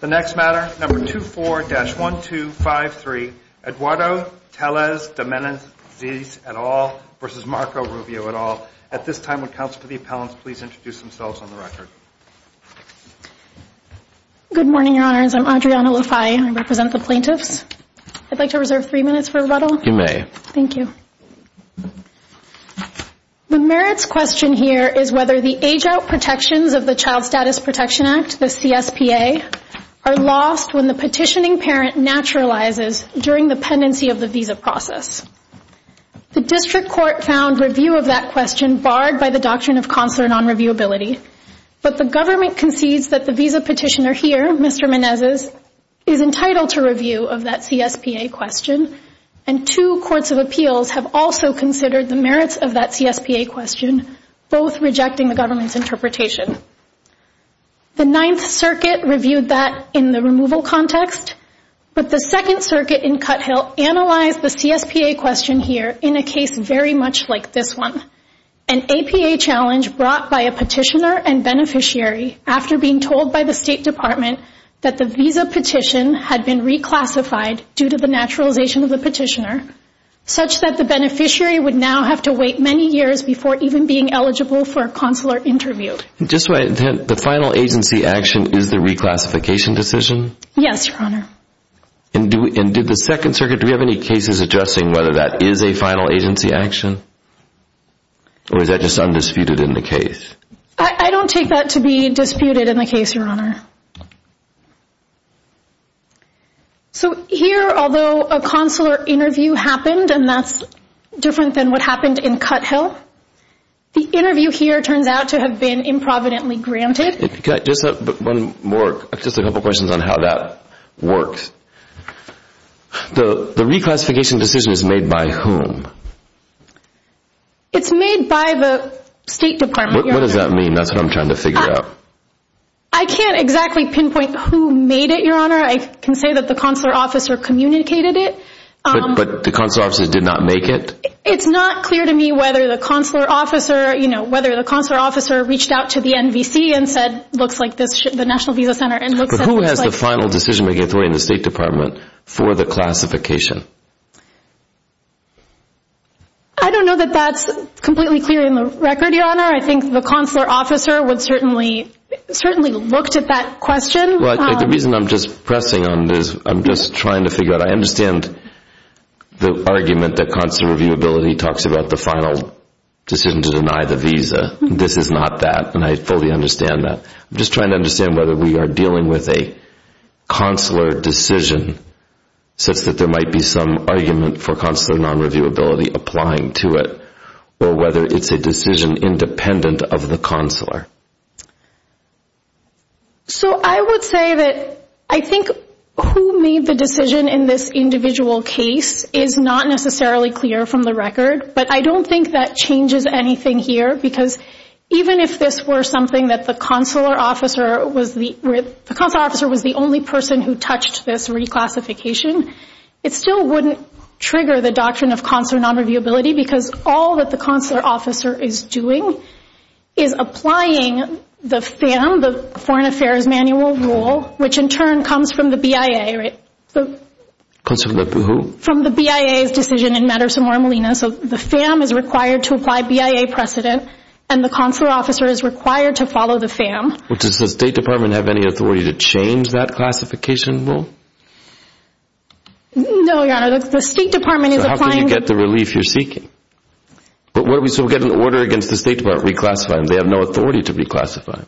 The next matter, number 24-1253, Eduardo Telles De Menezes et al. versus Marco Rubio et al. At this time, would counsel to the appellants please introduce themselves on the record. Good morning, Your Honors. I'm Adriana Lafayette. I represent the plaintiffs. I'd like to reserve three minutes for rebuttal. You may. Thank you. The merits question here is whether the age-out protections of the Child Status Protection Act, the CSPA, are lost when the petitioning parent naturalizes during the pendency of the visa process. The district court found review of that question barred by the Doctrine of Consular Nonreviewability, but the government concedes that the visa petitioner here, Mr. Menezes, is entitled to review of that CSPA question, and two courts of appeals have also considered the merits of that CSPA question, both rejecting the government's interpretation. The Ninth Circuit reviewed that in the removal context, but the Second Circuit in Cuthill analyzed the CSPA question here in a case very much like this one, an APA challenge brought by a petitioner and beneficiary after being told by the State Department that the visa petition had been reclassified due to the naturalization of the petitioner, such that the beneficiary would now have to wait many years before even being eligible for a consular interview. Just so I understand, the final agency action is the reclassification decision? Yes, Your Honor. And did the Second Circuit, do we have any cases addressing whether that is a final agency action? Or is that just undisputed in the case? I don't take that to be disputed in the case, Your Honor. So here, although a consular interview happened, and that's different than what happened in Cuthill, the interview here turns out to have been improvidently granted. Just a couple questions on how that works. The reclassification decision is made by whom? It's made by the State Department, Your Honor. What does that mean? That's what I'm trying to figure out. I can't exactly pinpoint who made it, Your Honor. I can say that the consular officer communicated it. But the consular officer did not make it? It's not clear to me whether the consular officer reached out to the NVC and said, who has the final decision-making authority in the State Department for the classification? I don't know that that's completely clear in the record, Your Honor. I think the consular officer would certainly, certainly looked at that question. The reason I'm just pressing on this, I'm just trying to figure out, I understand the argument that consular reviewability talks about the final decision to deny the visa. This is not that, and I fully understand that. I'm just trying to understand whether we are dealing with a consular decision such that there might be some argument for consular non-reviewability applying to it, or whether it's a decision independent of the consular. So I would say that I think who made the decision in this individual case is not necessarily clear from the record, but I don't think that changes anything here because even if this were something that the consular officer was the only person who touched this reclassification, it still wouldn't trigger the doctrine of consular non-reviewability because all that the consular officer is doing is applying the FAM, the Foreign Affairs Manual Rule, which in turn comes from the BIA. Consular who? From the BIA's decision in Madison, Marmalena, so the FAM is required to apply BIA precedent and the consular officer is required to follow the FAM. Does the State Department have any authority to change that classification rule? No, Your Honor, the State Department is applying... So how can you get the relief you're seeking? So what do we get in order against the State Department reclassifying? They have no authority to reclassify.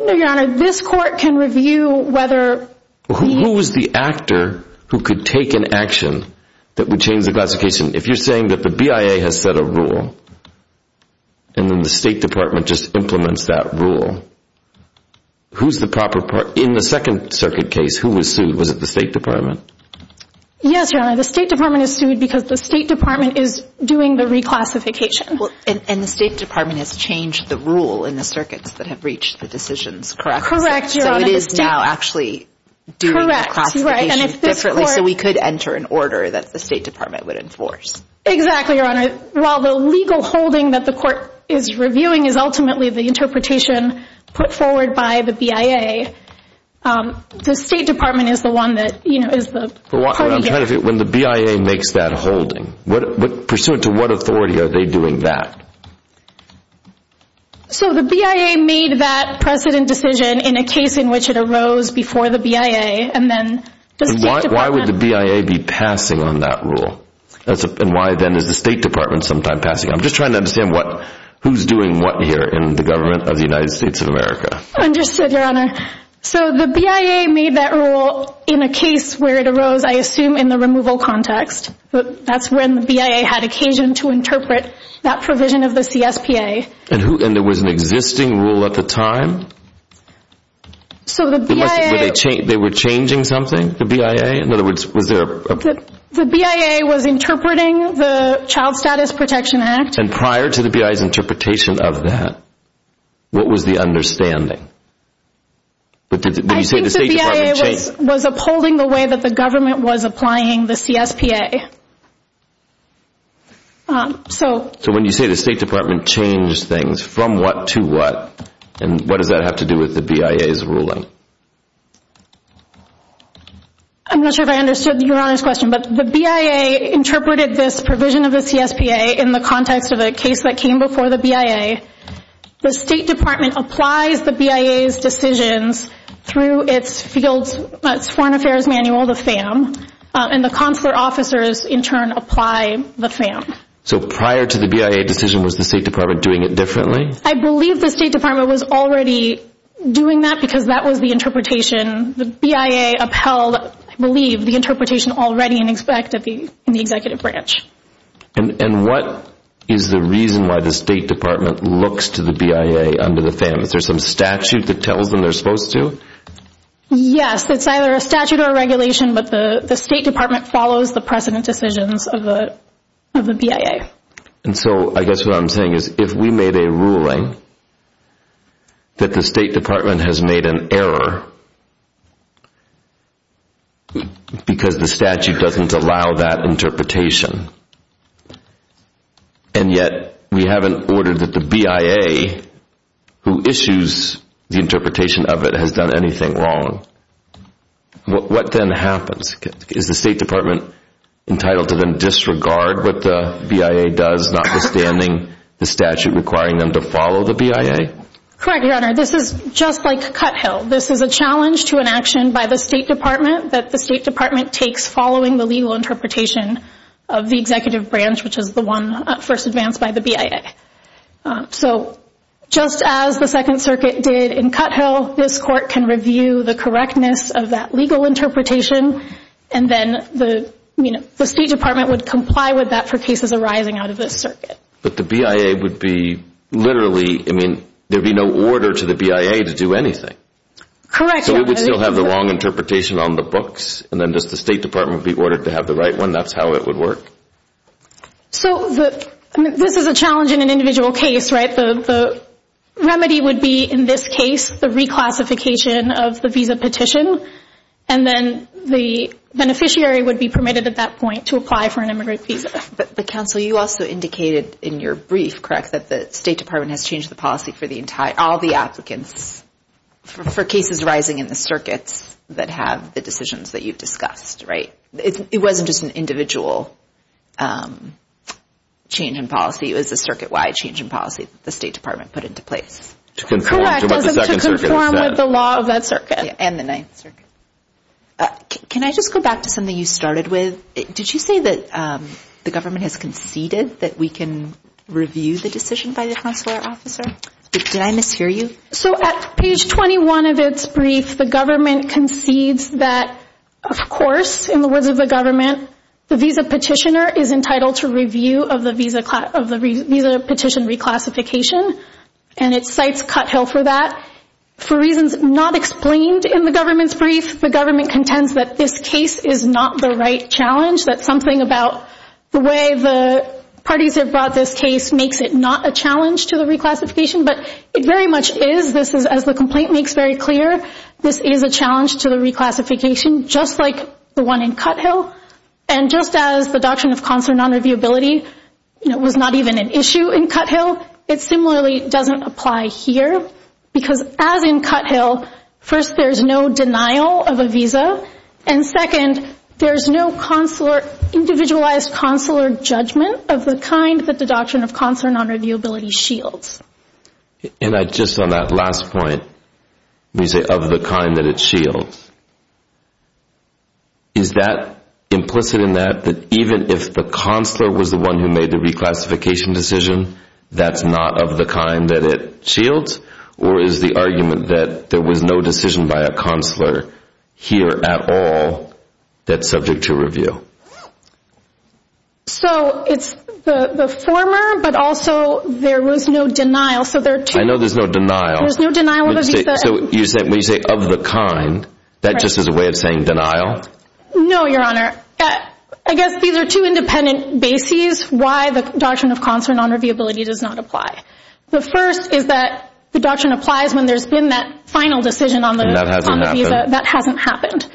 No, Your Honor, this court can review whether... Who is the actor who could take an action that would change the classification? If you're saying that the BIA has set a rule and then the State Department just implements that rule, who's the proper part? In the Second Circuit case, who was sued? Was it the State Department? Yes, Your Honor, the State Department is sued because the State Department is doing the reclassification. And the State Department has changed the rule in the circuits that have reached the decisions, correct? Correct, Your Honor. So it is now actually doing the classification differently so we could enter an order that the State Department would enforce. Exactly, Your Honor. While the legal holding that the court is reviewing is ultimately the interpretation put forward by the BIA, the State Department is the one that, you know, is the... When the BIA makes that holding, pursuant to what authority are they doing that? So the BIA made that precedent decision in a case in which it arose before the BIA and then... Why would the BIA be passing on that rule? And why then is the State Department sometime passing it? I'm just trying to understand who's doing what here in the government of the United States of America. Understood, Your Honor. So the BIA made that rule in a case where it arose, I assume, in the removal context. That's when the BIA had occasion to interpret that provision of the CSPA. And there was an existing rule at the time? So the BIA... They were changing something, the BIA? In other words, was there a... The BIA was interpreting the Child Status Protection Act. And prior to the BIA's interpretation of that, what was the understanding? I think the BIA was upholding the way that the government was applying the CSPA. So... So when you say the State Department changed things, from what to what? And what does that have to do with the BIA's ruling? I'm not sure if I understood Your Honor's question, but the BIA interpreted this provision of the CSPA in the context of a case that came before the BIA. The State Department applies the BIA's decisions through its fields, its foreign affairs manual, the FAM. And the consular officers, in turn, apply the FAM. So prior to the BIA decision, was the State Department doing it differently? I believe the State Department was already doing that because that was the interpretation. The BIA upheld, I believe, the interpretation already in effect in the Executive Branch. And what is the reason why the State Department looks to the BIA under the FAM? Is there some statute that tells them they're supposed to? Yes, it's either a statute or a regulation, but the State Department follows the precedent decisions of the BIA. And so, I guess what I'm saying is, if we made a ruling that the State Department has made an error, because the statute doesn't allow that interpretation, and yet we haven't ordered that the BIA, who issues the interpretation of it, has done anything wrong, what then happens? Is the State Department entitled to then disregard what the BIA does, notwithstanding the statute requiring them to follow the BIA? Correct, Your Honor. This is just like Cuthill. This is a challenge to an action by the State Department that the State Department takes following the legal interpretation of the Executive Branch, which is the one first advanced by the BIA. So, just as the Second Circuit did in Cuthill, this Court can review the correctness of that legal interpretation, and then the State Department would comply with that for cases arising out of this circuit. But the BIA would be literally, I mean, there would be no order to the BIA to do anything. Correct, Your Honor. So it would still have the wrong interpretation on the books, and then just the State Department would be ordered to have the right one? That's how it would work? So, this is a challenge in an individual case, right? The remedy would be, in this case, the reclassification of the visa petition, and then the beneficiary would be permitted at that point to apply for an immigrant visa. But, Counsel, you also indicated in your brief, correct, that the State Department has changed the policy for all the applicants for cases arising in the circuits that have the decisions that you've discussed, right? It wasn't just an individual change in policy. It was a circuit-wide change in policy that the State Department put into place. Correct, to conform with the law of that circuit. And the Ninth Circuit. Can I just go back to something you started with? Did you say that the government has conceded that we can review the decision by the consular officer? Did I mishear you? So, at page 21 of its brief, the government concedes that, of course, in the words of the government, the visa petitioner is entitled to review of the visa petition reclassification, and it cites Cuthill for that. For reasons not explained in the government's brief, the government contends that this case is not the right challenge, that something about the way the parties have brought this case makes it not a challenge to the reclassification, but it very much is, as the complaint makes very clear, this is a challenge to the reclassification, just like the one in Cuthill. And just as the Doctrine of Consular Nonreviewability was not even an issue in Cuthill, it similarly doesn't apply here, because as in Cuthill, first, there's no denial of a visa, and second, there's no consular, individualized consular judgment of the kind that the Doctrine of Consular Nonreviewability shields. And I, just on that last point, when you say of the kind that it shields, is that implicit in that, that even if the consular was the one who made the reclassification decision, that's not of the kind that it shields? Or is the argument that there was no decision by a consular here at all that's subject to review? So it's the former, but also there was no denial. I know there's no denial. There's no denial of a visa. So when you say of the kind, that just is a way of saying denial? No, Your Honor. I guess these are two independent bases why the Doctrine of Consular Nonreviewability does not apply. The first is that the doctrine applies when there's been that final decision on the visa. That hasn't happened.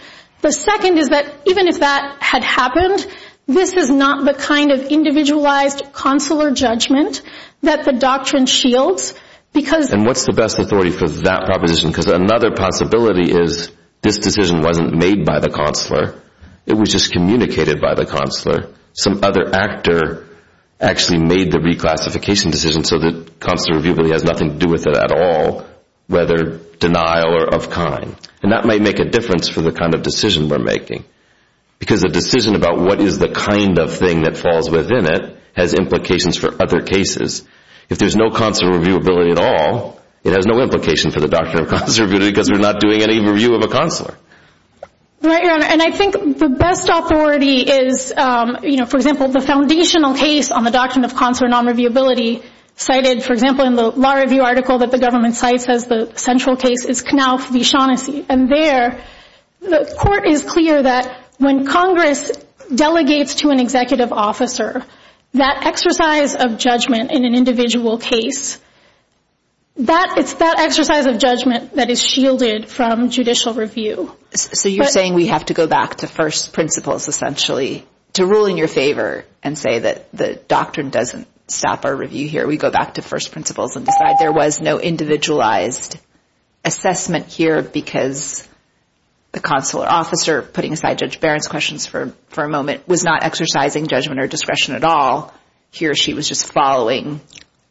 The second is that even if that had happened, this is not the kind of individualized consular judgment that the doctrine shields. And what's the best authority for that proposition? Because another possibility is this decision wasn't made by the consular. It was just communicated by the consular. Some other actor actually made the reclassification decision so that consular reviewability has nothing to do with it at all, whether denial or of kind. And that might make a difference for the kind of decision we're making. Because a decision about what is the kind of thing that falls within it has implications for other cases. If there's no consular reviewability at all, it has no implication for the doctrine of consular reviewability because we're not doing any review of a consular. Right, Your Honor. And I think the best authority is, you know, for example, the foundational case on the doctrine of consular non-reviewability cited, for example, in the law review article that the government cites as the central case is Knauf v. Shaughnessy. And there the court is clear that when Congress delegates to an executive officer that exercise of judgment in an individual case, it's that exercise of judgment that is shielded from judicial review. So you're saying we have to go back to first principles essentially to rule in your favor and say that the doctrine doesn't stop our review here. We go back to first principles and decide there was no individualized assessment here because the consular officer, putting aside Judge Barron's questions for a moment, was not exercising judgment or discretion at all. He or she was just following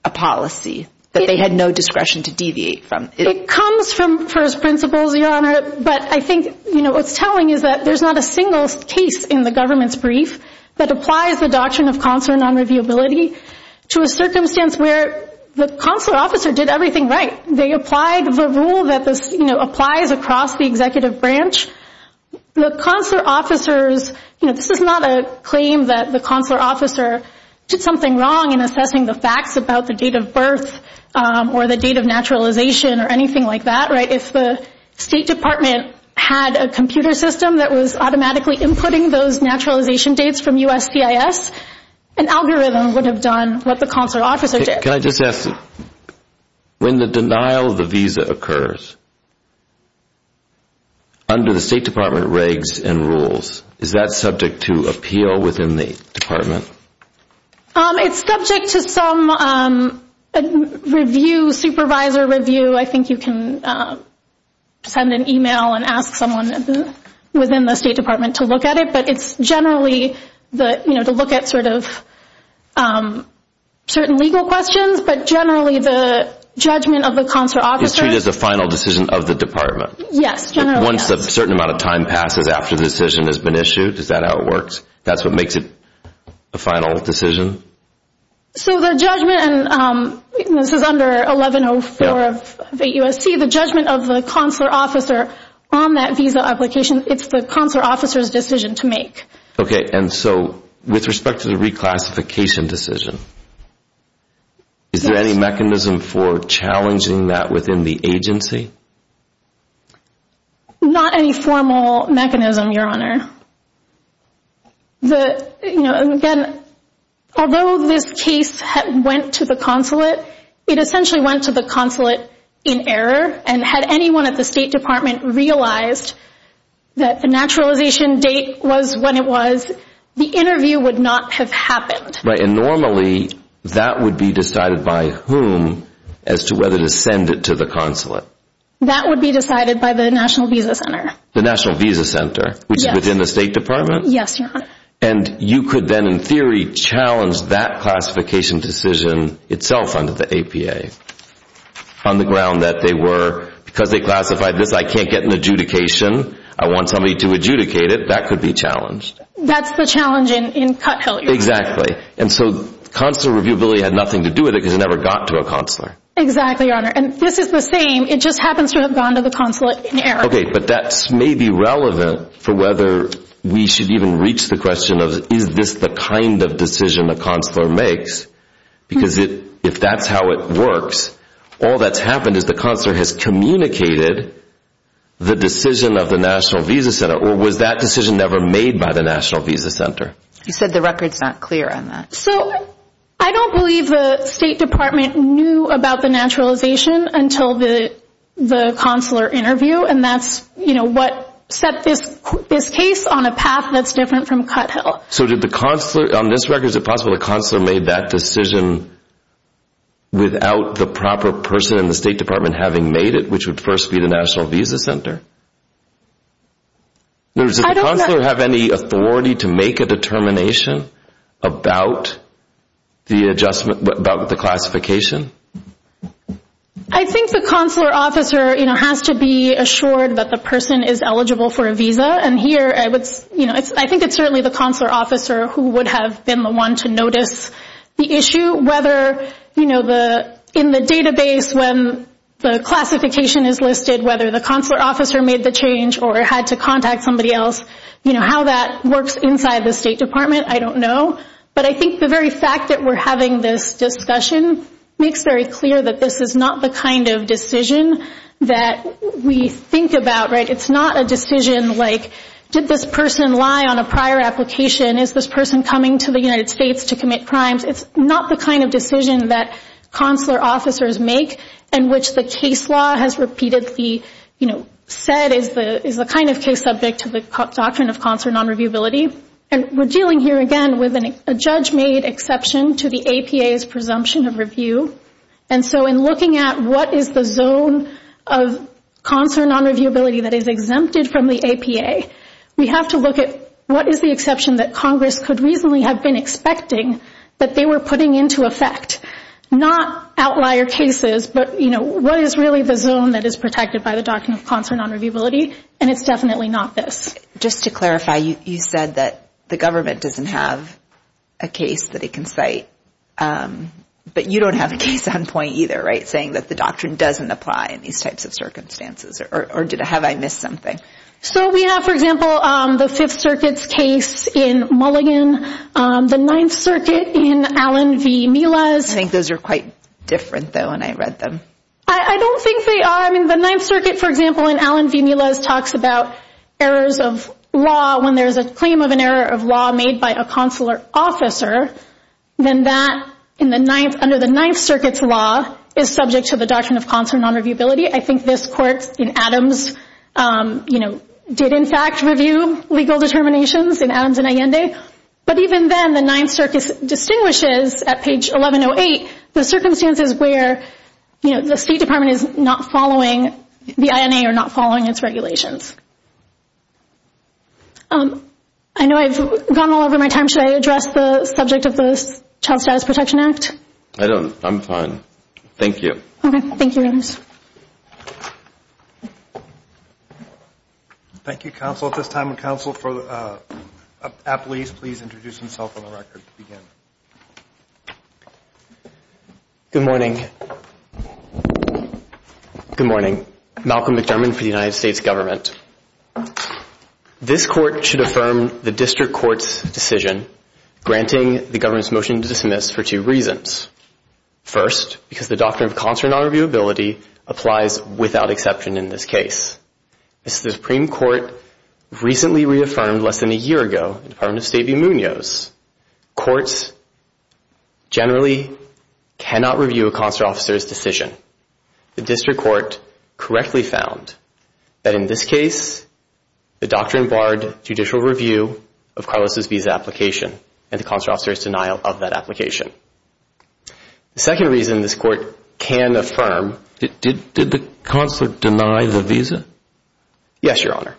a policy that they had no discretion to deviate from. It comes from first principles, Your Honor, but I think what's telling is that there's not a single case in the government's brief that applies the doctrine of consular non-reviewability to a circumstance where the consular officer did everything right. They applied the rule that applies across the executive branch. The consular officers, you know, this is not a claim that the consular officer did something wrong in assessing the facts about the date of birth or the date of naturalization or anything like that, right? If the State Department had a computer system that was automatically inputting those naturalization dates from USPIS, an algorithm would have done what the consular officer did. Can I just ask, when the denial of the visa occurs, under the State Department regs and rules, is that subject to appeal within the department? It's subject to some review, supervisor review. I think you can send an email and ask someone within the State Department to look at it, but it's generally to look at sort of certain legal questions, but generally the judgment of the consular officer... Is treated as the final decision of the department? Yes, generally yes. Once a certain amount of time passes after the decision has been issued, is that how it works? That's what makes it the final decision? So the judgment, and this is under 1104 of the USC, the judgment of the consular officer on that visa application, it's the consular officer's decision to make. Okay, and so with respect to the reclassification decision, is there any mechanism for challenging that within the agency? Not any formal mechanism, Your Honor. Again, although this case went to the consulate, it essentially went to the consulate in error, and had anyone at the State Department realized that the naturalization date was when it was, the interview would not have happened. Right, and normally that would be decided by whom as to whether to send it to the consulate? That would be decided by the National Visa Center. The National Visa Center, which is within the State Department? Yes, Your Honor. And you could then in theory challenge that classification decision itself under the APA on the ground that they were, because they classified this, I can't get an adjudication, I want somebody to adjudicate it, that could be challenged. That's the challenge in Cuthill, you're saying? Exactly. And so consular reviewability had nothing to do with it because it never got to a consular. Exactly, Your Honor. And this is the same, it just happens to have gone to the consulate in error. Okay, but that may be relevant for whether we should even reach the question of is this the kind of decision a consular makes, because if that's how it works, all that's happened is the consular has communicated the decision of the National Visa Center, or was that decision never made by the National Visa Center? You said the record's not clear on that. So I don't believe the State Department knew about the naturalization until the consular interview, and that's what set this case on a path that's different from Cuthill. So did the consular, on this record, is it possible the consular made that decision without the proper person in the State Department having made it, which would first be the National Visa Center? Does the consular have any authority to make a determination about the adjustment, about the classification? I think the consular officer has to be assured that the person is eligible for a visa, and here I think it's certainly the consular officer who would have been the one to notice the issue, whether in the database when the classification is listed, whether the consular officer made the change or had to contact somebody else, how that works inside the State Department, I don't know. But I think the very fact that we're having this discussion makes very clear that this is not the kind of decision that we think about, right? It's not a decision like, did this person lie on a prior application? Is this person coming to the United States to commit crimes? It's not the kind of decision that consular officers make in which the case law has repeatedly, you know, said is the kind of case subject to the doctrine of consular nonreviewability. And we're dealing here again with a judge-made exception to the APA's presumption of review. And so in looking at what is the zone of consular nonreviewability that is exempted from the APA, we have to look at what is the exception that Congress could reasonably have been expecting that they were putting into effect, not outlier cases, but, you know, what is really the zone that is protected by the doctrine of consular nonreviewability, and it's definitely not this. Just to clarify, you said that the government doesn't have a case that it can cite, but you don't have a case on point either, right, saying that the doctrine doesn't apply in these types of circumstances, or have I missed something? So we have, for example, the Fifth Circuit's case in Mulligan, the Ninth Circuit in Allen v. Milas. I think those are quite different, though, when I read them. I don't think they are. So, I mean, the Ninth Circuit, for example, in Allen v. Milas talks about errors of law when there is a claim of an error of law made by a consular officer, then that under the Ninth Circuit's law is subject to the doctrine of consular nonreviewability. I think this court in Adams, you know, did in fact review legal determinations in Adams and Allende, but even then the Ninth Circuit distinguishes at page 1108 the circumstances where, you know, the State Department is not following the INA or not following its regulations. I know I've gone all over my time. Should I address the subject of the Child Status Protection Act? I don't know. I'm fine. Thank you. Okay. Thank you, Adams. Thank you, counsel, at this time. And counsel, appellees, please introduce themselves on the record to begin. Good morning. Good morning. Malcolm McDermott for the United States Government. This court should affirm the district court's decision granting the government's motion to dismiss for two reasons. First, because the doctrine of consular nonreviewability applies without exception in this case. The Supreme Court recently reaffirmed less than a year ago in the Department of State v. Munoz courts generally cannot review a consular officer's decision. The district court correctly found that in this case the doctrine barred judicial review of Carlos's visa application and the consular officer's denial of that application. The second reason this court can affirm. Did the consular deny the visa? Yes, Your Honor.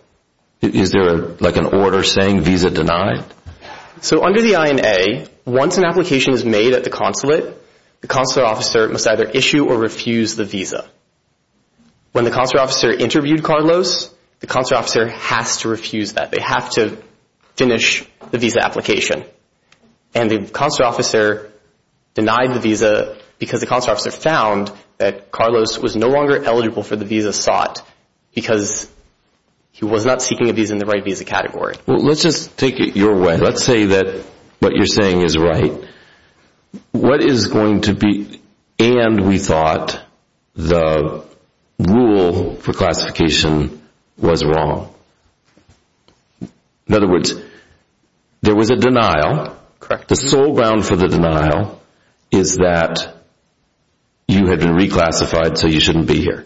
Is there, like, an order saying visa denied? So under the INA, once an application is made at the consulate, the consular officer must either issue or refuse the visa. When the consular officer interviewed Carlos, the consular officer has to refuse that. They have to finish the visa application. And the consular officer denied the visa because the consular officer found that Carlos was no longer eligible for the visa sought because he was not seeking a visa in the right visa category. Well, let's just take it your way. Let's say that what you're saying is right. What is going to be and we thought the rule for classification was wrong? In other words, there was a denial. Correct. The sole ground for the denial is that you had been reclassified so you shouldn't be here.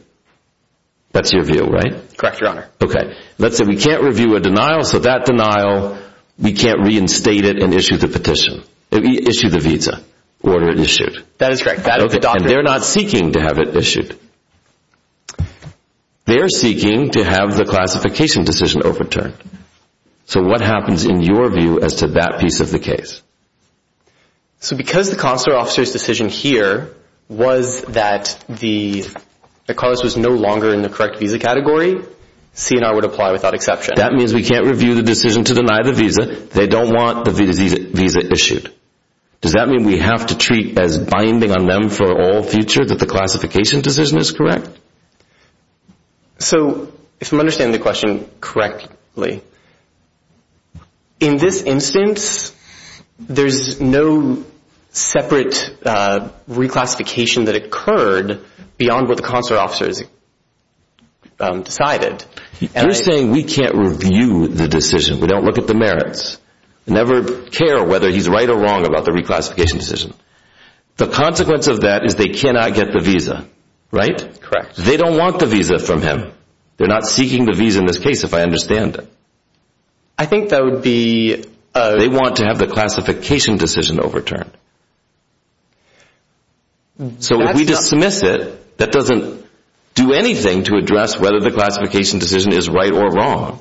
That's your view, right? Correct, Your Honor. Okay. Let's say we can't review a denial so that denial, we can't reinstate it and issue the petition. Issue the visa, order it issued. That is correct. And they're not seeking to have it issued. They're seeking to have the classification decision overturned. So what happens in your view as to that piece of the case? So because the consular officer's decision here was that Carlos was no longer in the correct visa category, CNR would apply without exception. That means we can't review the decision to deny the visa. They don't want the visa issued. Does that mean we have to treat as binding on them for all future that the classification decision is correct? So if I'm understanding the question correctly, in this instance, there's no separate reclassification that occurred beyond what the consular officer has decided. You're saying we can't review the decision. We don't look at the merits. Never care whether he's right or wrong about the reclassification decision. The consequence of that is they cannot get the visa, right? Correct. They don't want the visa from him. They're not seeking the visa in this case if I understand it. I think that would be a... They want to have the classification decision overturned. So if we dismiss it, that doesn't do anything to address whether the classification decision is right or wrong.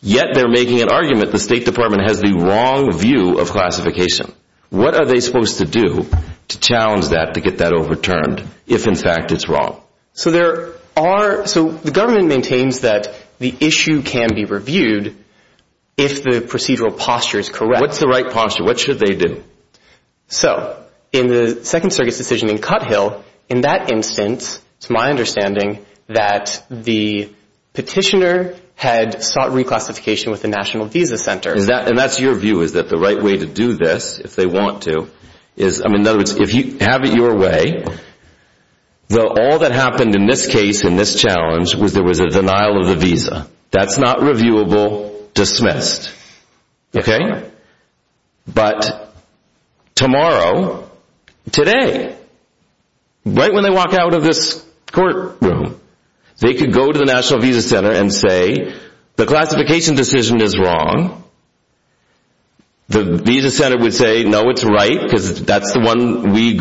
Yet they're making an argument the State Department has the wrong view of classification. What are they supposed to do to challenge that to get that overturned if, in fact, it's wrong? So there are... So the government maintains that the issue can be reviewed if the procedural posture is correct. What's the right posture? What should they do? So in the Second Circuit's decision in Cuthill, in that instance, it's my understanding, that the petitioner had sought reclassification with the National Visa Center. And that's your view, is that the right way to do this, if they want to, is... In other words, if you have it your way, all that happened in this case, in this challenge, was there was a denial of the visa. That's not reviewable. Dismissed. Okay? But tomorrow, today, right when they walk out of this courtroom, they could go to the National Visa Center and say, the classification decision is wrong. The Visa Center would say, no, it's right, because that's what we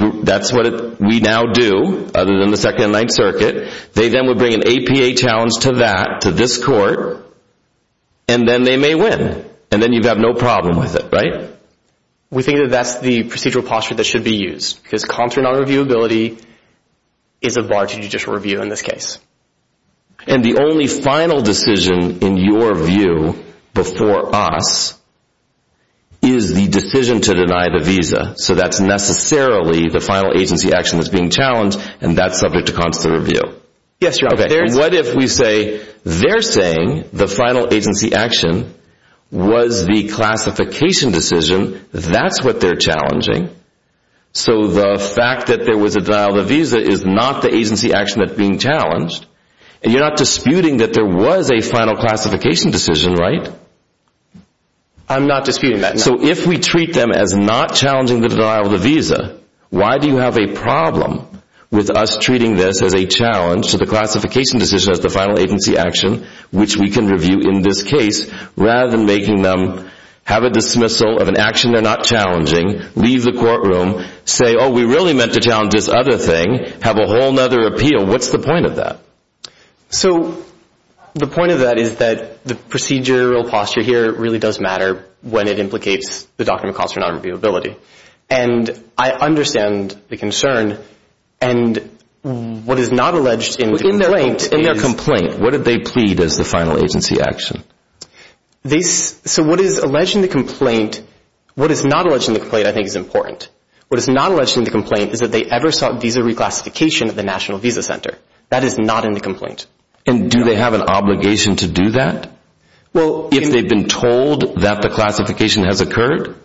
now do, other than the Second and Ninth Circuit. They then would bring an APA challenge to that, to this court, and then they may win. And then you'd have no problem with it, right? We think that that's the procedural posture that should be used, because contrary non-reviewability is a bar to judicial review in this case. And the only final decision, in your view, before us, is the decision to deny the visa. So that's necessarily the final agency action that's being challenged, and that's subject to constitutional review. Yes, Your Honor. What if we say, they're saying the final agency action was the classification decision. That's what they're challenging. So the fact that there was a denial of the visa is not the agency action that's being challenged. And you're not disputing that there was a final classification decision, right? I'm not disputing that, no. So if we treat them as not challenging the denial of the visa, why do you have a problem with us treating this as a challenge to the classification decision as the final agency action, which we can review in this case, rather than making them have a dismissal of an action they're not challenging, leave the courtroom, say, oh, we really meant to challenge this other thing, have a whole other appeal. What's the point of that? So the point of that is that the procedural posture here really does matter when it implicates the doctrine of cost or non-reviewability. And I understand the concern. And what is not alleged in the complaint is... In their complaint, what did they plead as the final agency action? So what is alleged in the complaint, what is not alleged in the complaint I think is important. What is not alleged in the complaint is that they ever sought visa reclassification at the National Visa Center. That is not in the complaint. And do they have an obligation to do that? Well, if they've been told that the classification has occurred?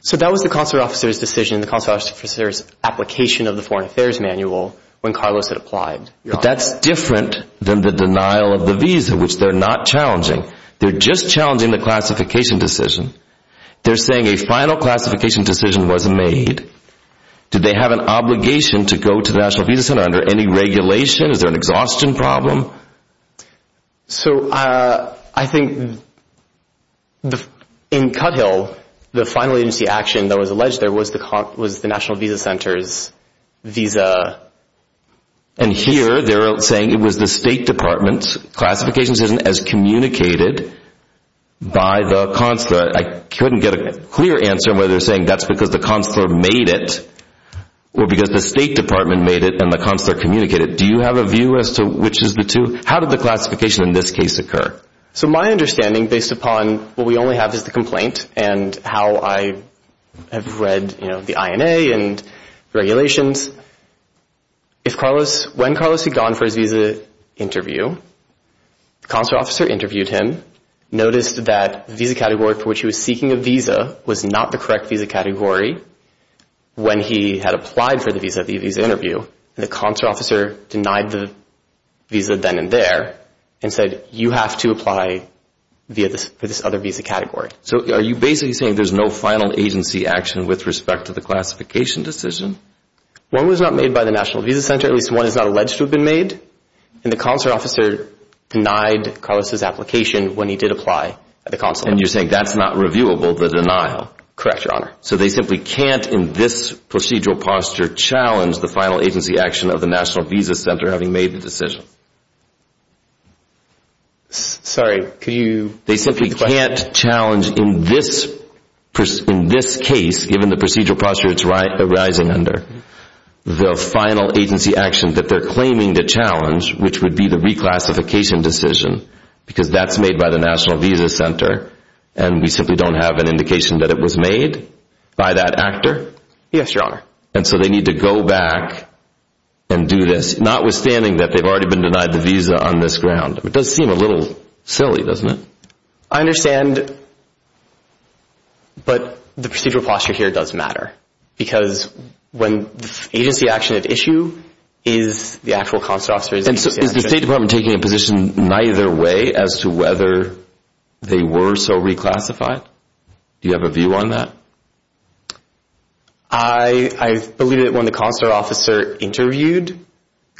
So that was the consular officer's decision, the consular officer's application of the Foreign Affairs Manual when Carlos had applied. But that's different than the denial of the visa, which they're not challenging. They're just challenging the classification decision. They're saying a final classification decision was made. Do they have an obligation to go to the National Visa Center under any regulation? Is there an exhaustion problem? So I think in Cuthill, the final agency action that was alleged there was the National Visa Center's visa. And here they're saying it was the State Department's classification decision as communicated by the consular. I couldn't get a clear answer on whether they're saying that's because the consular made it or because the State Department made it and the consular communicated it. Do you have a view as to which is the two? How did the classification in this case occur? So my understanding based upon what we only have is the complaint and how I have read the INA and regulations, when Carlos had gone for his visa interview, the consular officer interviewed him, noticed that the visa category for which he was seeking a visa was not the correct visa category when he had applied for the visa at the visa interview, and the consular officer denied the visa then and there and said you have to apply for this other visa category. So are you basically saying there's no final agency action with respect to the classification decision? One was not made by the National Visa Center. At least one is not alleged to have been made. And the consular officer denied Carlos' application when he did apply at the consular. And you're saying that's not reviewable, the denial? Correct, Your Honor. So they simply can't in this procedural posture challenge the final agency action of the National Visa Center having made the decision? Sorry, could you repeat the question? They simply can't challenge in this case, given the procedural posture it's arising under, the final agency action that they're claiming to challenge, which would be the reclassification decision, because that's made by the National Visa Center and we simply don't have an indication that it was made by that actor? Yes, Your Honor. And so they need to go back and do this, notwithstanding that they've already been denied the visa on this ground. It does seem a little silly, doesn't it? I understand, but the procedural posture here does matter, because when the agency action at issue is the actual consular officer. And so is the State Department taking a position neither way as to whether they were so reclassified? Do you have a view on that? I believe that when the consular officer interviewed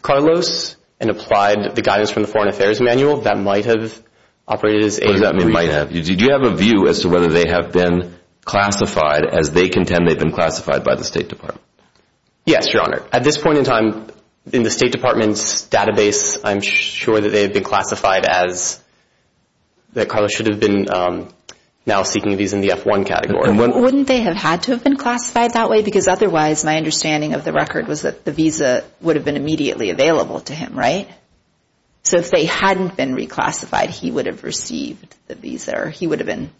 Carlos and applied the guidance from the Foreign Affairs Manual, that might have operated as a brief. Do you have a view as to whether they have been classified as they contend they've been classified by the State Department? Yes, Your Honor. At this point in time, in the State Department's database, I'm sure that they have been classified as, that Carlos should have been now seeking a visa in the F-1 category. Wouldn't they have had to have been classified that way? Because otherwise, my understanding of the record was that the visa would have been immediately available to him, right? So if they hadn't been reclassified, he would have received the visa, or he would have been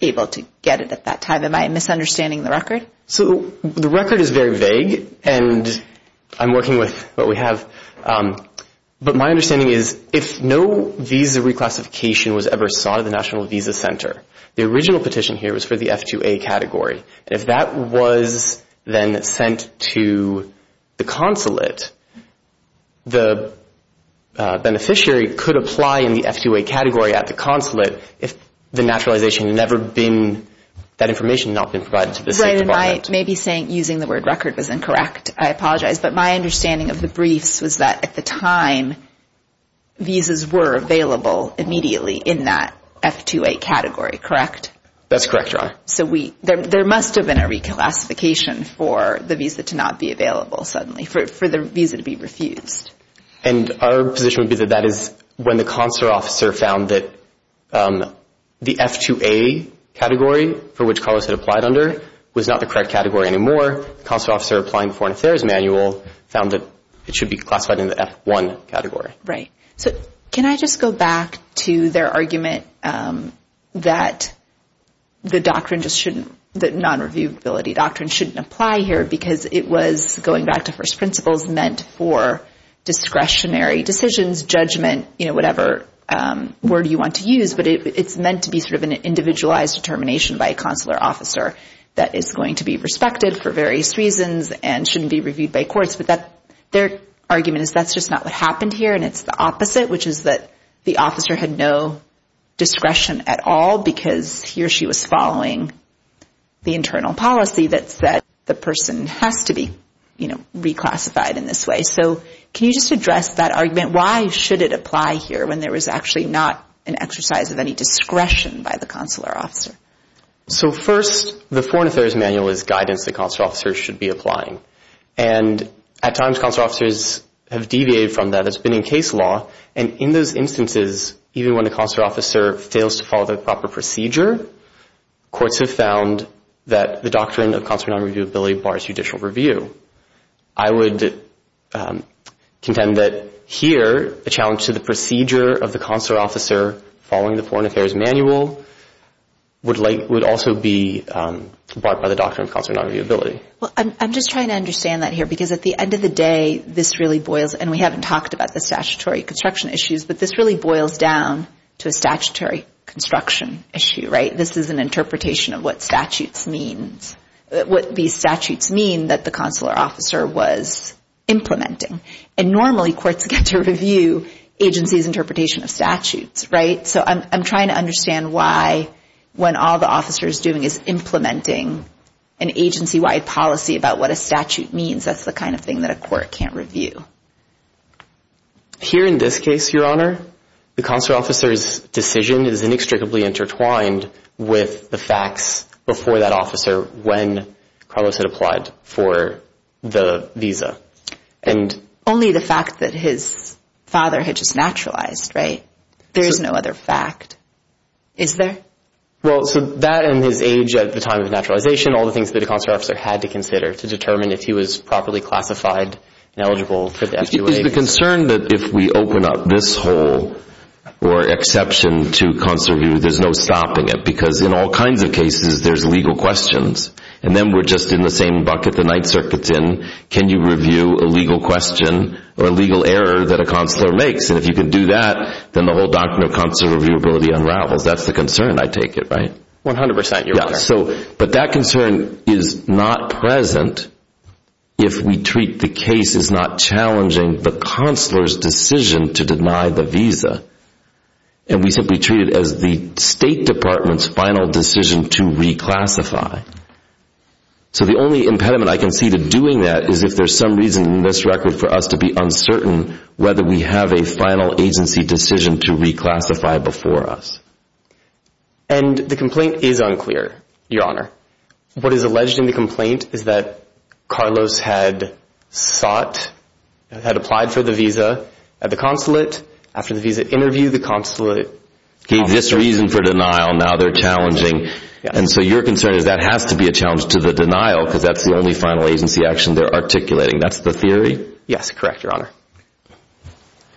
able to get it at that time. Am I misunderstanding the record? So the record is very vague, and I'm working with what we have. But my understanding is if no visa reclassification was ever sought at the National Visa Center, the original petition here was for the F-2A category. If that was then sent to the consulate, the beneficiary could apply in the F-2A category at the consulate if the naturalization had never been, that information had not been provided to the State Department. Right, and I may be saying using the word record was incorrect. I apologize. But my understanding of the briefs was that at the time, visas were available immediately in that F-2A category, correct? That's correct, Your Honor. So there must have been a reclassification for the visa to not be available suddenly, for the visa to be refused. And our position would be that that is when the consular officer found that the F-2A category for which Carlos had applied under was not the correct category anymore, the consular officer applying for an affairs manual found that it should be classified in the F-1 category. Right. So can I just go back to their argument that the doctrine just shouldn't, the non-reviewability doctrine shouldn't apply here because it was, going back to first principles, meant for discretionary decisions, judgment, whatever word you want to use, but it's meant to be sort of an individualized determination by a consular officer that is going to be respected for various reasons and shouldn't be reviewed by courts. But their argument is that's just not what happened here and it's the opposite, which is that the officer had no discretion at all because he or she was following the internal policy that said the person has to be, you know, reclassified in this way. So can you just address that argument? Why should it apply here when there was actually not an exercise of any discretion by the consular officer? So first, the Foreign Affairs Manual is guidance the consular officer should be applying. And at times, consular officers have deviated from that. That's been in case law. And in those instances, even when the consular officer fails to follow the proper procedure, courts have found that the doctrine of consular non-reviewability bars judicial review. I would contend that here the challenge to the procedure of the consular officer following the Foreign Affairs Manual would also be brought by the doctrine of consular non-reviewability. Well, I'm just trying to understand that here because at the end of the day, this really boils, and we haven't talked about the statutory construction issues, but this really boils down to a statutory construction issue, right? This is an interpretation of what statutes means, what these statutes mean that the consular officer was implementing. And normally courts get to review agencies' interpretation of statutes, right? So I'm trying to understand why when all the officer is doing is implementing an agency-wide policy about what a statute means, that's the kind of thing that a court can't review. Here in this case, Your Honor, the consular officer's decision is inextricably intertwined with the facts before that officer when Carlos had applied for the visa. Only the fact that his father had just naturalized, right? There is no other fact, is there? Well, so that and his age at the time of naturalization, all the things that a consular officer had to consider to determine if he was properly classified and eligible for the FQA. Is the concern that if we open up this hole or exception to consular review, there's no stopping it? Because in all kinds of cases, there's legal questions. And then we're just in the same bucket the Ninth Circuit's in. Can you review a legal question or a legal error that a consular makes? And if you can do that, then the whole doctrine of consular reviewability unravels. That's the concern, I take it, right? One hundred percent, Your Honor. Yeah, but that concern is not present if we treat the case as not challenging the consular's decision to deny the visa. And we simply treat it as the State Department's final decision to reclassify. So the only impediment I can see to doing that is if there's some reason in this record for us to be uncertain whether we have a final agency decision to reclassify before us. And the complaint is unclear, Your Honor. What is alleged in the complaint is that Carlos had sought, had applied for the visa at the consulate. After the visa interview, the consulate... Gave this reason for denial. Now they're challenging. And so your concern is that has to be a challenge to the denial because that's the only final agency action they're articulating. That's the theory? Yes, correct, Your Honor.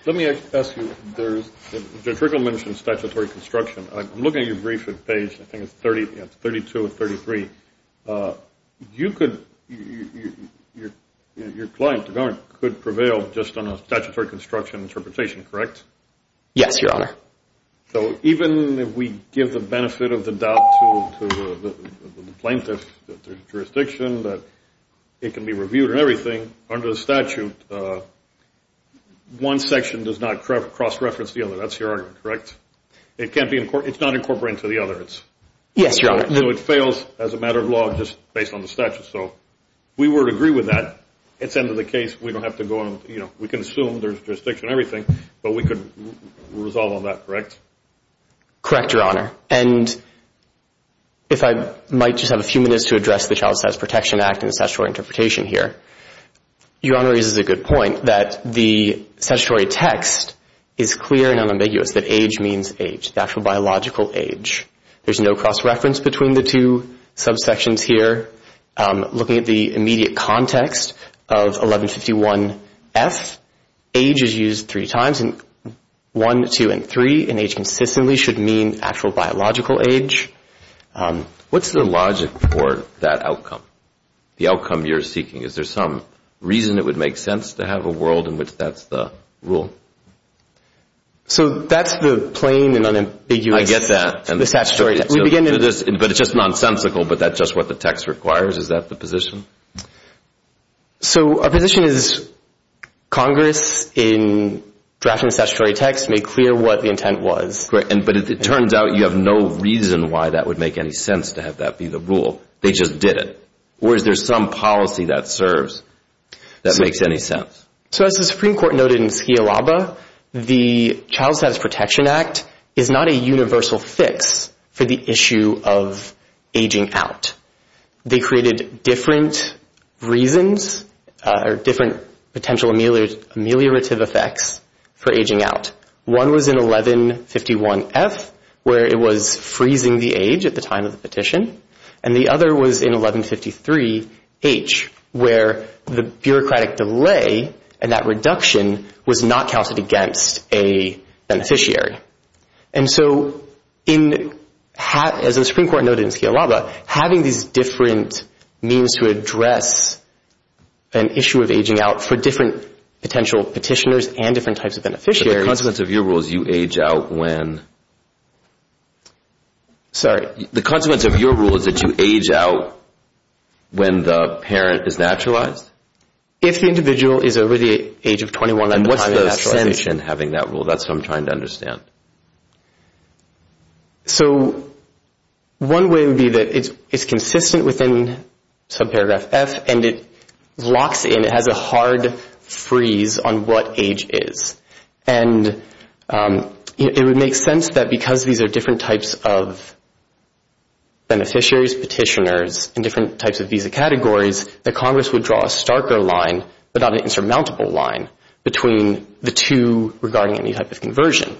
Let me ask you. Judge Rickle mentioned statutory construction. I'm looking at your brief at page, I think it's 32 or 33. You could, your client could prevail just on a statutory construction interpretation, correct? Yes, Your Honor. So even if we give the benefit of the doubt to the plaintiff, the jurisdiction, that it can be reviewed and everything under the statute, one section does not cross-reference the other. That's your argument, correct? It can't be incorporated. It's not incorporated into the other. Yes, Your Honor. So it fails as a matter of law just based on the statute. So we would agree with that. It's the end of the case. We don't have to go and, you know, we can assume there's jurisdiction and everything, but we could resolve on that, correct? Correct, Your Honor. And if I might just have a few minutes to address the Child Status Protection Act and the statutory interpretation here, Your Honor raises a good point that the statutory text is clear and unambiguous that age means age, the actual biological age. There's no cross-reference between the two subsections here. Looking at the immediate context of 1151F, age is used three times, and 1, 2, and 3 in age consistently should mean actual biological age. What's the logic for that outcome, the outcome you're seeking? Is there some reason it would make sense to have a world in which that's the rule? So that's the plain and unambiguous statutory. But it's just nonsensical, but that's just what the text requires. Is that the position? So our position is Congress, in drafting the statutory text, made clear what the intent was. But it turns out you have no reason why that would make any sense to have that be the rule. They just did it. Or is there some policy that serves that makes any sense? So as the Supreme Court noted in Skiawaba, the Child Status Protection Act is not a universal fix for the issue of aging out. They created different reasons or different potential ameliorative effects for aging out. One was in 1151F where it was freezing the age at the time of the petition, and the other was in 1153H where the bureaucratic delay and that reduction was not counted against a beneficiary. And so as the Supreme Court noted in Skiawaba, having these different means to address an issue of aging out for different potential petitioners and different types of beneficiaries. But the consequence of your rule is you age out when? Sorry? The consequence of your rule is that you age out when the parent is naturalized? If the individual is over the age of 21 at the time of naturalization. That's what I'm trying to understand. So one way would be that it's consistent within subparagraph F, and it locks in, it has a hard freeze on what age is. And it would make sense that because these are different types of beneficiaries, petitioners, and different types of visa categories, that Congress would draw a starker line, but not an insurmountable line, between the two regarding any type of conversion.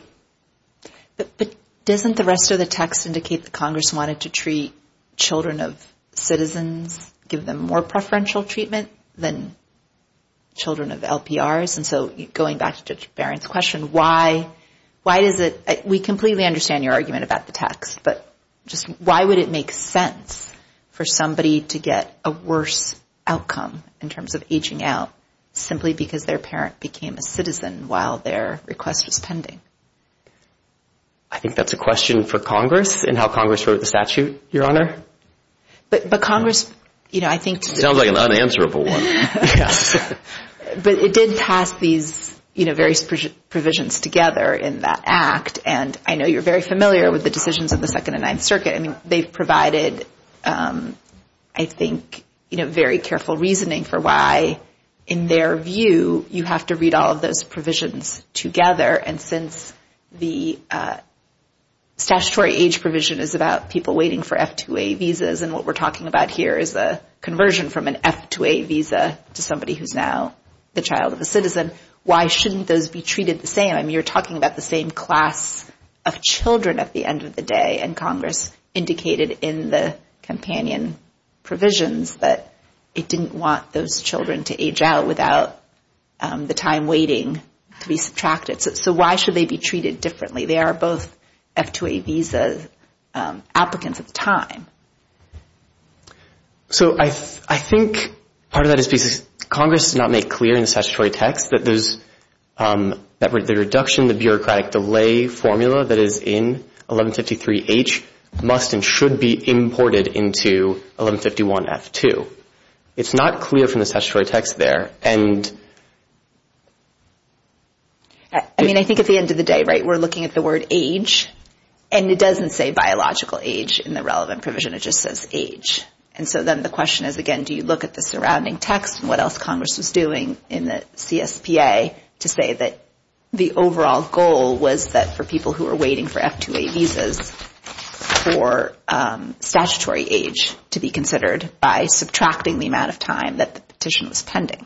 But doesn't the rest of the text indicate that Congress wanted to treat children of citizens, give them more preferential treatment than children of LPRs? And so going back to Judge Barron's question, why does it, we completely understand your argument about the text, but just why would it make sense for somebody to get a worse outcome in terms of aging out simply because their parent became a citizen while their request was pending? I think that's a question for Congress and how Congress wrote the statute, Your Honor. But Congress, you know, I think... Sounds like an unanswerable one. But it did pass these, you know, various provisions together in that act, and I know you're very familiar with the decisions of the Second and Ninth Circuit. I mean, they've provided, I think, you know, very careful reasoning for why, in their view, you have to read all of those provisions together. And since the statutory age provision is about people waiting for F2A visas, and what we're talking about here is a conversion from an F2A visa to somebody who's now the child of a citizen, why shouldn't those be treated the same? I mean, you're talking about the same class of children at the end of the day, and Congress indicated in the companion provisions that it didn't want those children to age out without the time waiting to be subtracted. So why should they be treated differently? They are both F2A visa applicants at the time. So I think part of that is because Congress did not make clear in the statutory text that there's the reduction, the bureaucratic delay formula that is in 1153H must and should be imported into 1151F2. It's not clear from the statutory text there. I mean, I think at the end of the day, right, we're looking at the word age, and it doesn't say biological age in the relevant provision. It just says age. And so then the question is, again, do you look at the surrounding text and what else Congress was doing in the CSPA to say that the overall goal was that for people who are waiting for F2A visas for statutory age to be considered by subtracting the amount of time that the petition was pending?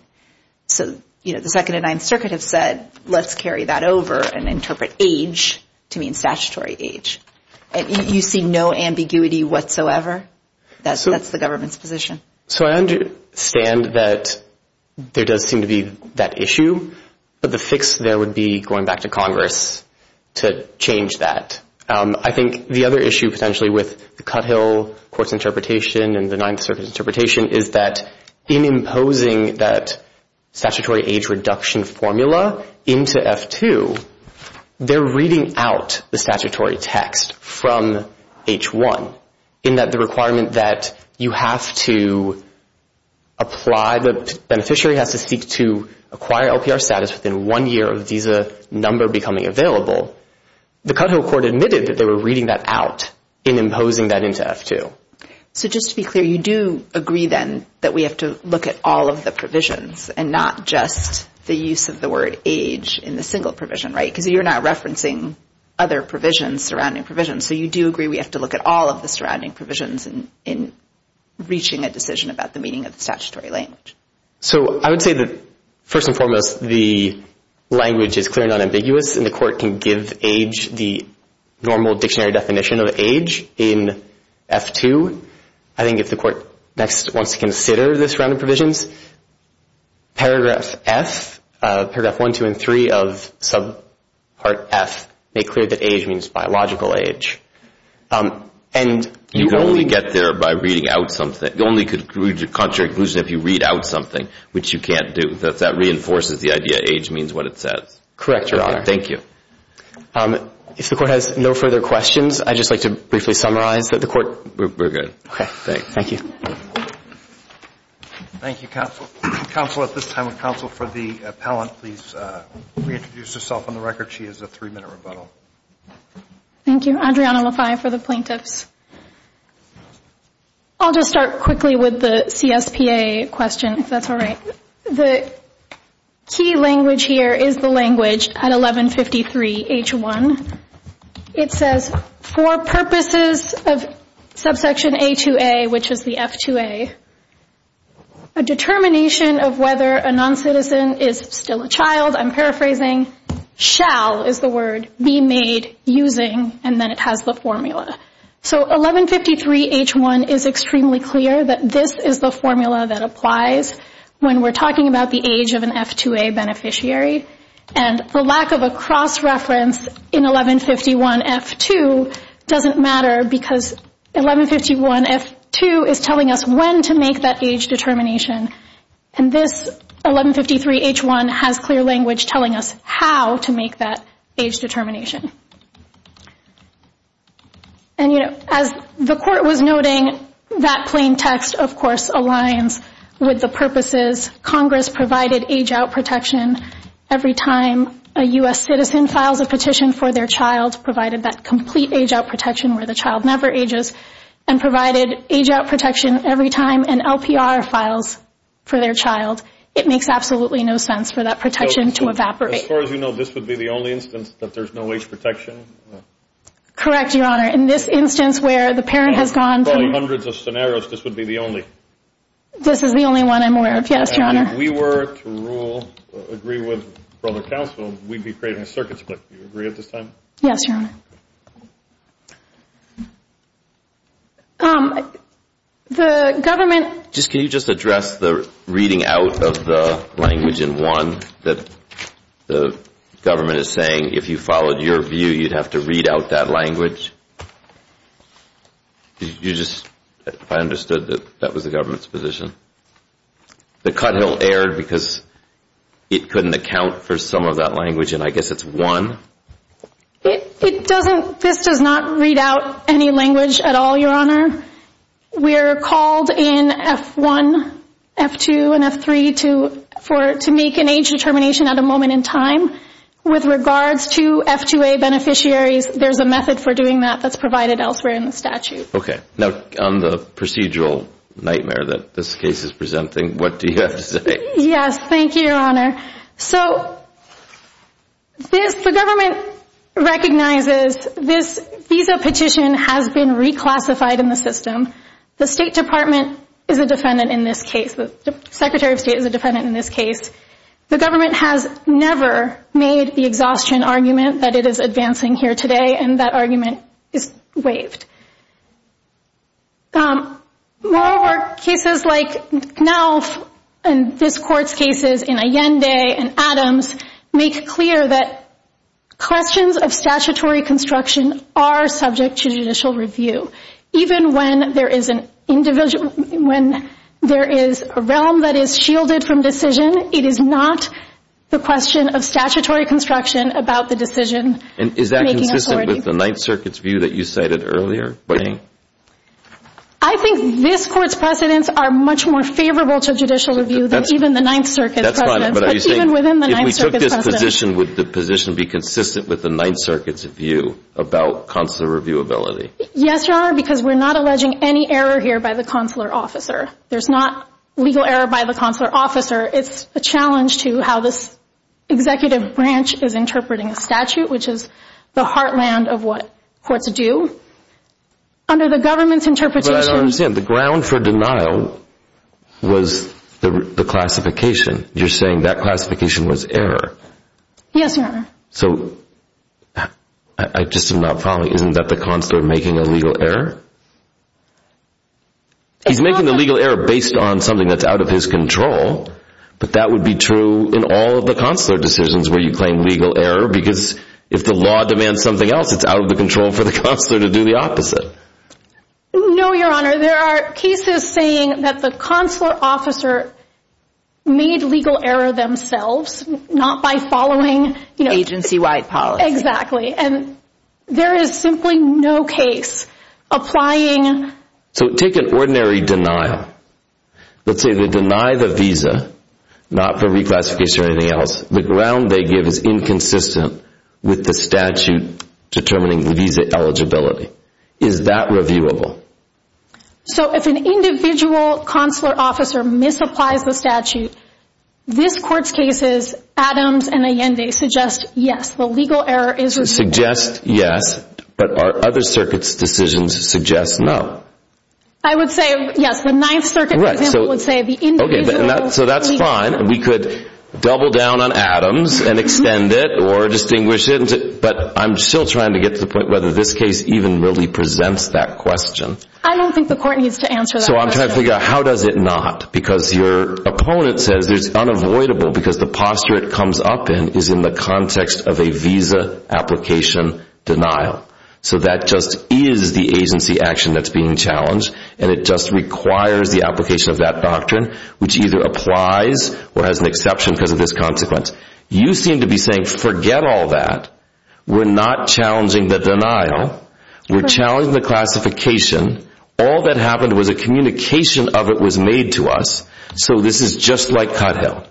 So, you know, the Second and Ninth Circuit have said, let's carry that over and interpret age to mean statutory age. You see no ambiguity whatsoever? That's the government's position. So I understand that there does seem to be that issue, but the fix there would be going back to Congress to change that. I think the other issue potentially with the Cuthill Court's interpretation and the Ninth Circuit's interpretation is that in imposing that statutory age reduction formula into F2, they're reading out the statutory text from H1, in that the requirement that you have to apply, the beneficiary has to seek to acquire LPR status within one year of the visa number becoming available. The Cuthill Court admitted that they were reading that out in imposing that into F2. So just to be clear, you do agree then that we have to look at all of the provisions and not just the use of the word age in the single provision, right? Because you're not referencing other provisions, surrounding provisions. So you do agree we have to look at all of the surrounding provisions in reaching a decision about the meaning of the statutory language. So I would say that, first and foremost, the language is clear and unambiguous, and the Court can give age the normal dictionary definition of age in F2. I think if the Court next wants to consider the surrounding provisions, paragraph F, paragraph 1, 2, and 3 of subpart F make clear that age means biological age. You only get there by reading out something. You only reach a contrary conclusion if you read out something, which you can't do. That reinforces the idea age means what it says. Correct, Your Honor. Thank you. If the Court has no further questions, I'd just like to briefly summarize that the Court... We're good. Okay. Thanks. Thank you. Thank you, Counsel. Counsel, at this time, would Counsel for the Appellant please reintroduce herself on the record? She has a three-minute rebuttal. Thank you. Adriana LaFay for the Plaintiffs. I'll just start quickly with the CSPA question, if that's all right. The key language here is the language at 1153 H1. It says, for purposes of subsection A2A, which is the F2A, a determination of whether a noncitizen is still a child, I'm paraphrasing, shall, is the word, be made using, and then it has the formula. So 1153 H1 is extremely clear that this is the formula that applies when we're talking about the age of an F2A beneficiary. And the lack of a cross-reference in 1151 F2 doesn't matter because 1151 F2 is telling us when to make that age determination, and this 1153 H1 has clear language telling us how to make that age determination. And, you know, as the Court was noting, that plain text, of course, aligns with the purposes. Congress provided age-out protection every time a U.S. citizen files a petition for their child, the U.S. provided that complete age-out protection where the child never ages, and provided age-out protection every time an LPR files for their child. It makes absolutely no sense for that protection to evaporate. As far as you know, this would be the only instance that there's no age protection? Correct, Your Honor. In this instance where the parent has gone through hundreds of scenarios, this would be the only. This is the only one I'm aware of, yes, Your Honor. If we were to rule, agree with the Council, we'd be creating a circuit split. Do you agree at this time? Yes, Your Honor. The government— Can you just address the reading out of the language in one that the government is saying, if you followed your view, you'd have to read out that language? You just—I understood that that was the government's position. The Cuthill erred because it couldn't account for some of that language, and I guess it's one. It doesn't—this does not read out any language at all, Your Honor. We're called in F1, F2, and F3 to make an age determination at a moment in time. With regards to F2A beneficiaries, there's a method for doing that that's provided elsewhere in the statute. Okay. Now, on the procedural nightmare that this case is presenting, what do you have to say? Yes, thank you, Your Honor. So the government recognizes this visa petition has been reclassified in the system. The State Department is a defendant in this case. The Secretary of State is a defendant in this case. The government has never made the exhaustion argument that it is advancing here today, and that argument is waived. Moreover, cases like Knauf and this Court's cases in Allende and Adams make clear that questions of statutory construction are subject to judicial review. Even when there is an individual—when there is a realm that is shielded from decision, it is not the question of statutory construction about the decision-making authority. And is that consistent with the Ninth Circuit's view that you cited earlier? I think this Court's precedents are much more favorable to judicial review than even the Ninth Circuit's precedents. That's fine, but are you saying— But even within the Ninth Circuit's precedents. If we took this position, would the position be consistent with the Ninth Circuit's view about consular reviewability? Yes, Your Honor, because we're not alleging any error here by the consular officer. There's not legal error by the consular officer. It's a challenge to how this executive branch is interpreting a statute, which is the heartland of what courts do. Under the government's interpretation— But I don't understand. The ground for denial was the classification. You're saying that classification was error. Yes, Your Honor. So I just am not following. Isn't that the consular making a legal error? He's making the legal error based on something that's out of his control, but that would be true in all of the consular decisions where you claim legal error because if the law demands something else, it's out of the control for the consular to do the opposite. No, Your Honor, there are cases saying that the consular officer made legal error themselves, not by following agency-wide policy. Exactly, and there is simply no case applying— So take an ordinary denial. Let's say they deny the visa, not for reclassification or anything else. The ground they give is inconsistent with the statute determining visa eligibility. Is that reviewable? So if an individual consular officer misapplies the statute, this Court's cases, Adams and Allende, suggest yes, the legal error is— Suggest yes, but our other circuit's decisions suggest no. I would say yes. The Ninth Circuit, for example, would say the individual— So that's fine. We could double down on Adams and extend it or distinguish it, but I'm still trying to get to the point whether this case even really presents that question. I don't think the Court needs to answer that question. So I'm trying to figure out how does it not? Because your opponent says it's unavoidable because the posture it comes up in is in the context of a visa application denial. So that just is the agency action that's being challenged, and it just requires the application of that doctrine, which either applies or has an exception because of this consequence. You seem to be saying forget all that. We're not challenging the denial. We're challenging the classification. All that happened was a communication of it was made to us. So this is just like Cotthill.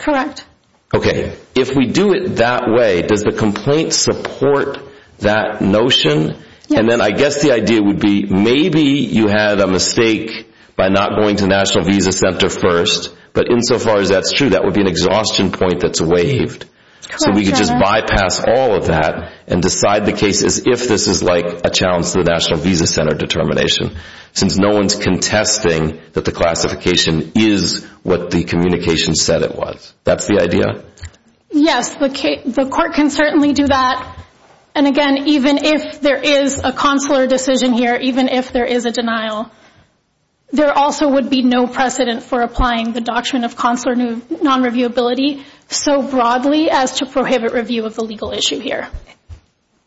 Correct. Okay. If we do it that way, does the complaint support that notion? And then I guess the idea would be maybe you had a mistake by not going to National Visa Center first, but insofar as that's true, that would be an exhaustion point that's waived. So we could just bypass all of that and decide the case as if this is like a challenge to the National Visa Center determination since no one's contesting that the classification is what the communication said it was. That's the idea? Yes. The Court can certainly do that. And again, even if there is a consular decision here, even if there is a denial, there also would be no precedent for applying the Doctrine of Consular Nonreviewability so broadly as to prohibit review of the legal issue here.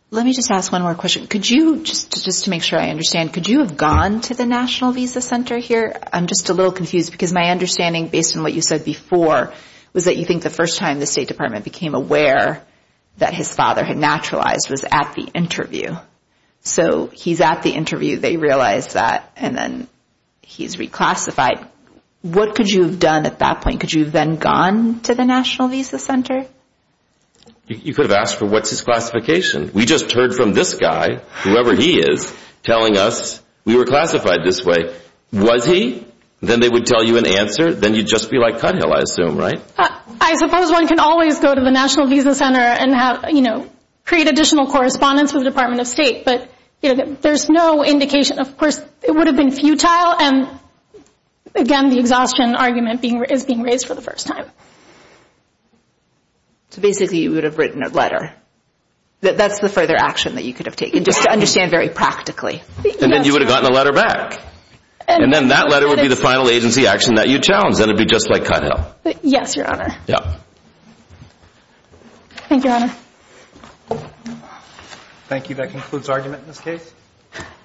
Let me just ask one more question. Just to make sure I understand, could you have gone to the National Visa Center here? I'm just a little confused because my understanding, based on what you said before, was that you think the first time the State Department became aware that his father had naturalized was at the interview. So he's at the interview, they realize that, and then he's reclassified. What could you have done at that point? Could you have then gone to the National Visa Center? You could have asked for what's his classification. We just heard from this guy, whoever he is, telling us we were classified this way. Was he? Then they would tell you an answer. Then you'd just be like Cuthill, I assume, right? I suppose one can always go to the National Visa Center and create additional correspondence with the Department of State, but there's no indication. Of course, it would have been futile, and again the exhaustion argument is being raised for the first time. So basically you would have written a letter. That's the further action that you could have taken, just to understand very practically. And then you would have gotten a letter back. And then that letter would be the final agency action that you'd challenge, and it would be just like Cuthill. Yes, Your Honor. Thank you, Your Honor. Thank you. That concludes argument in this case.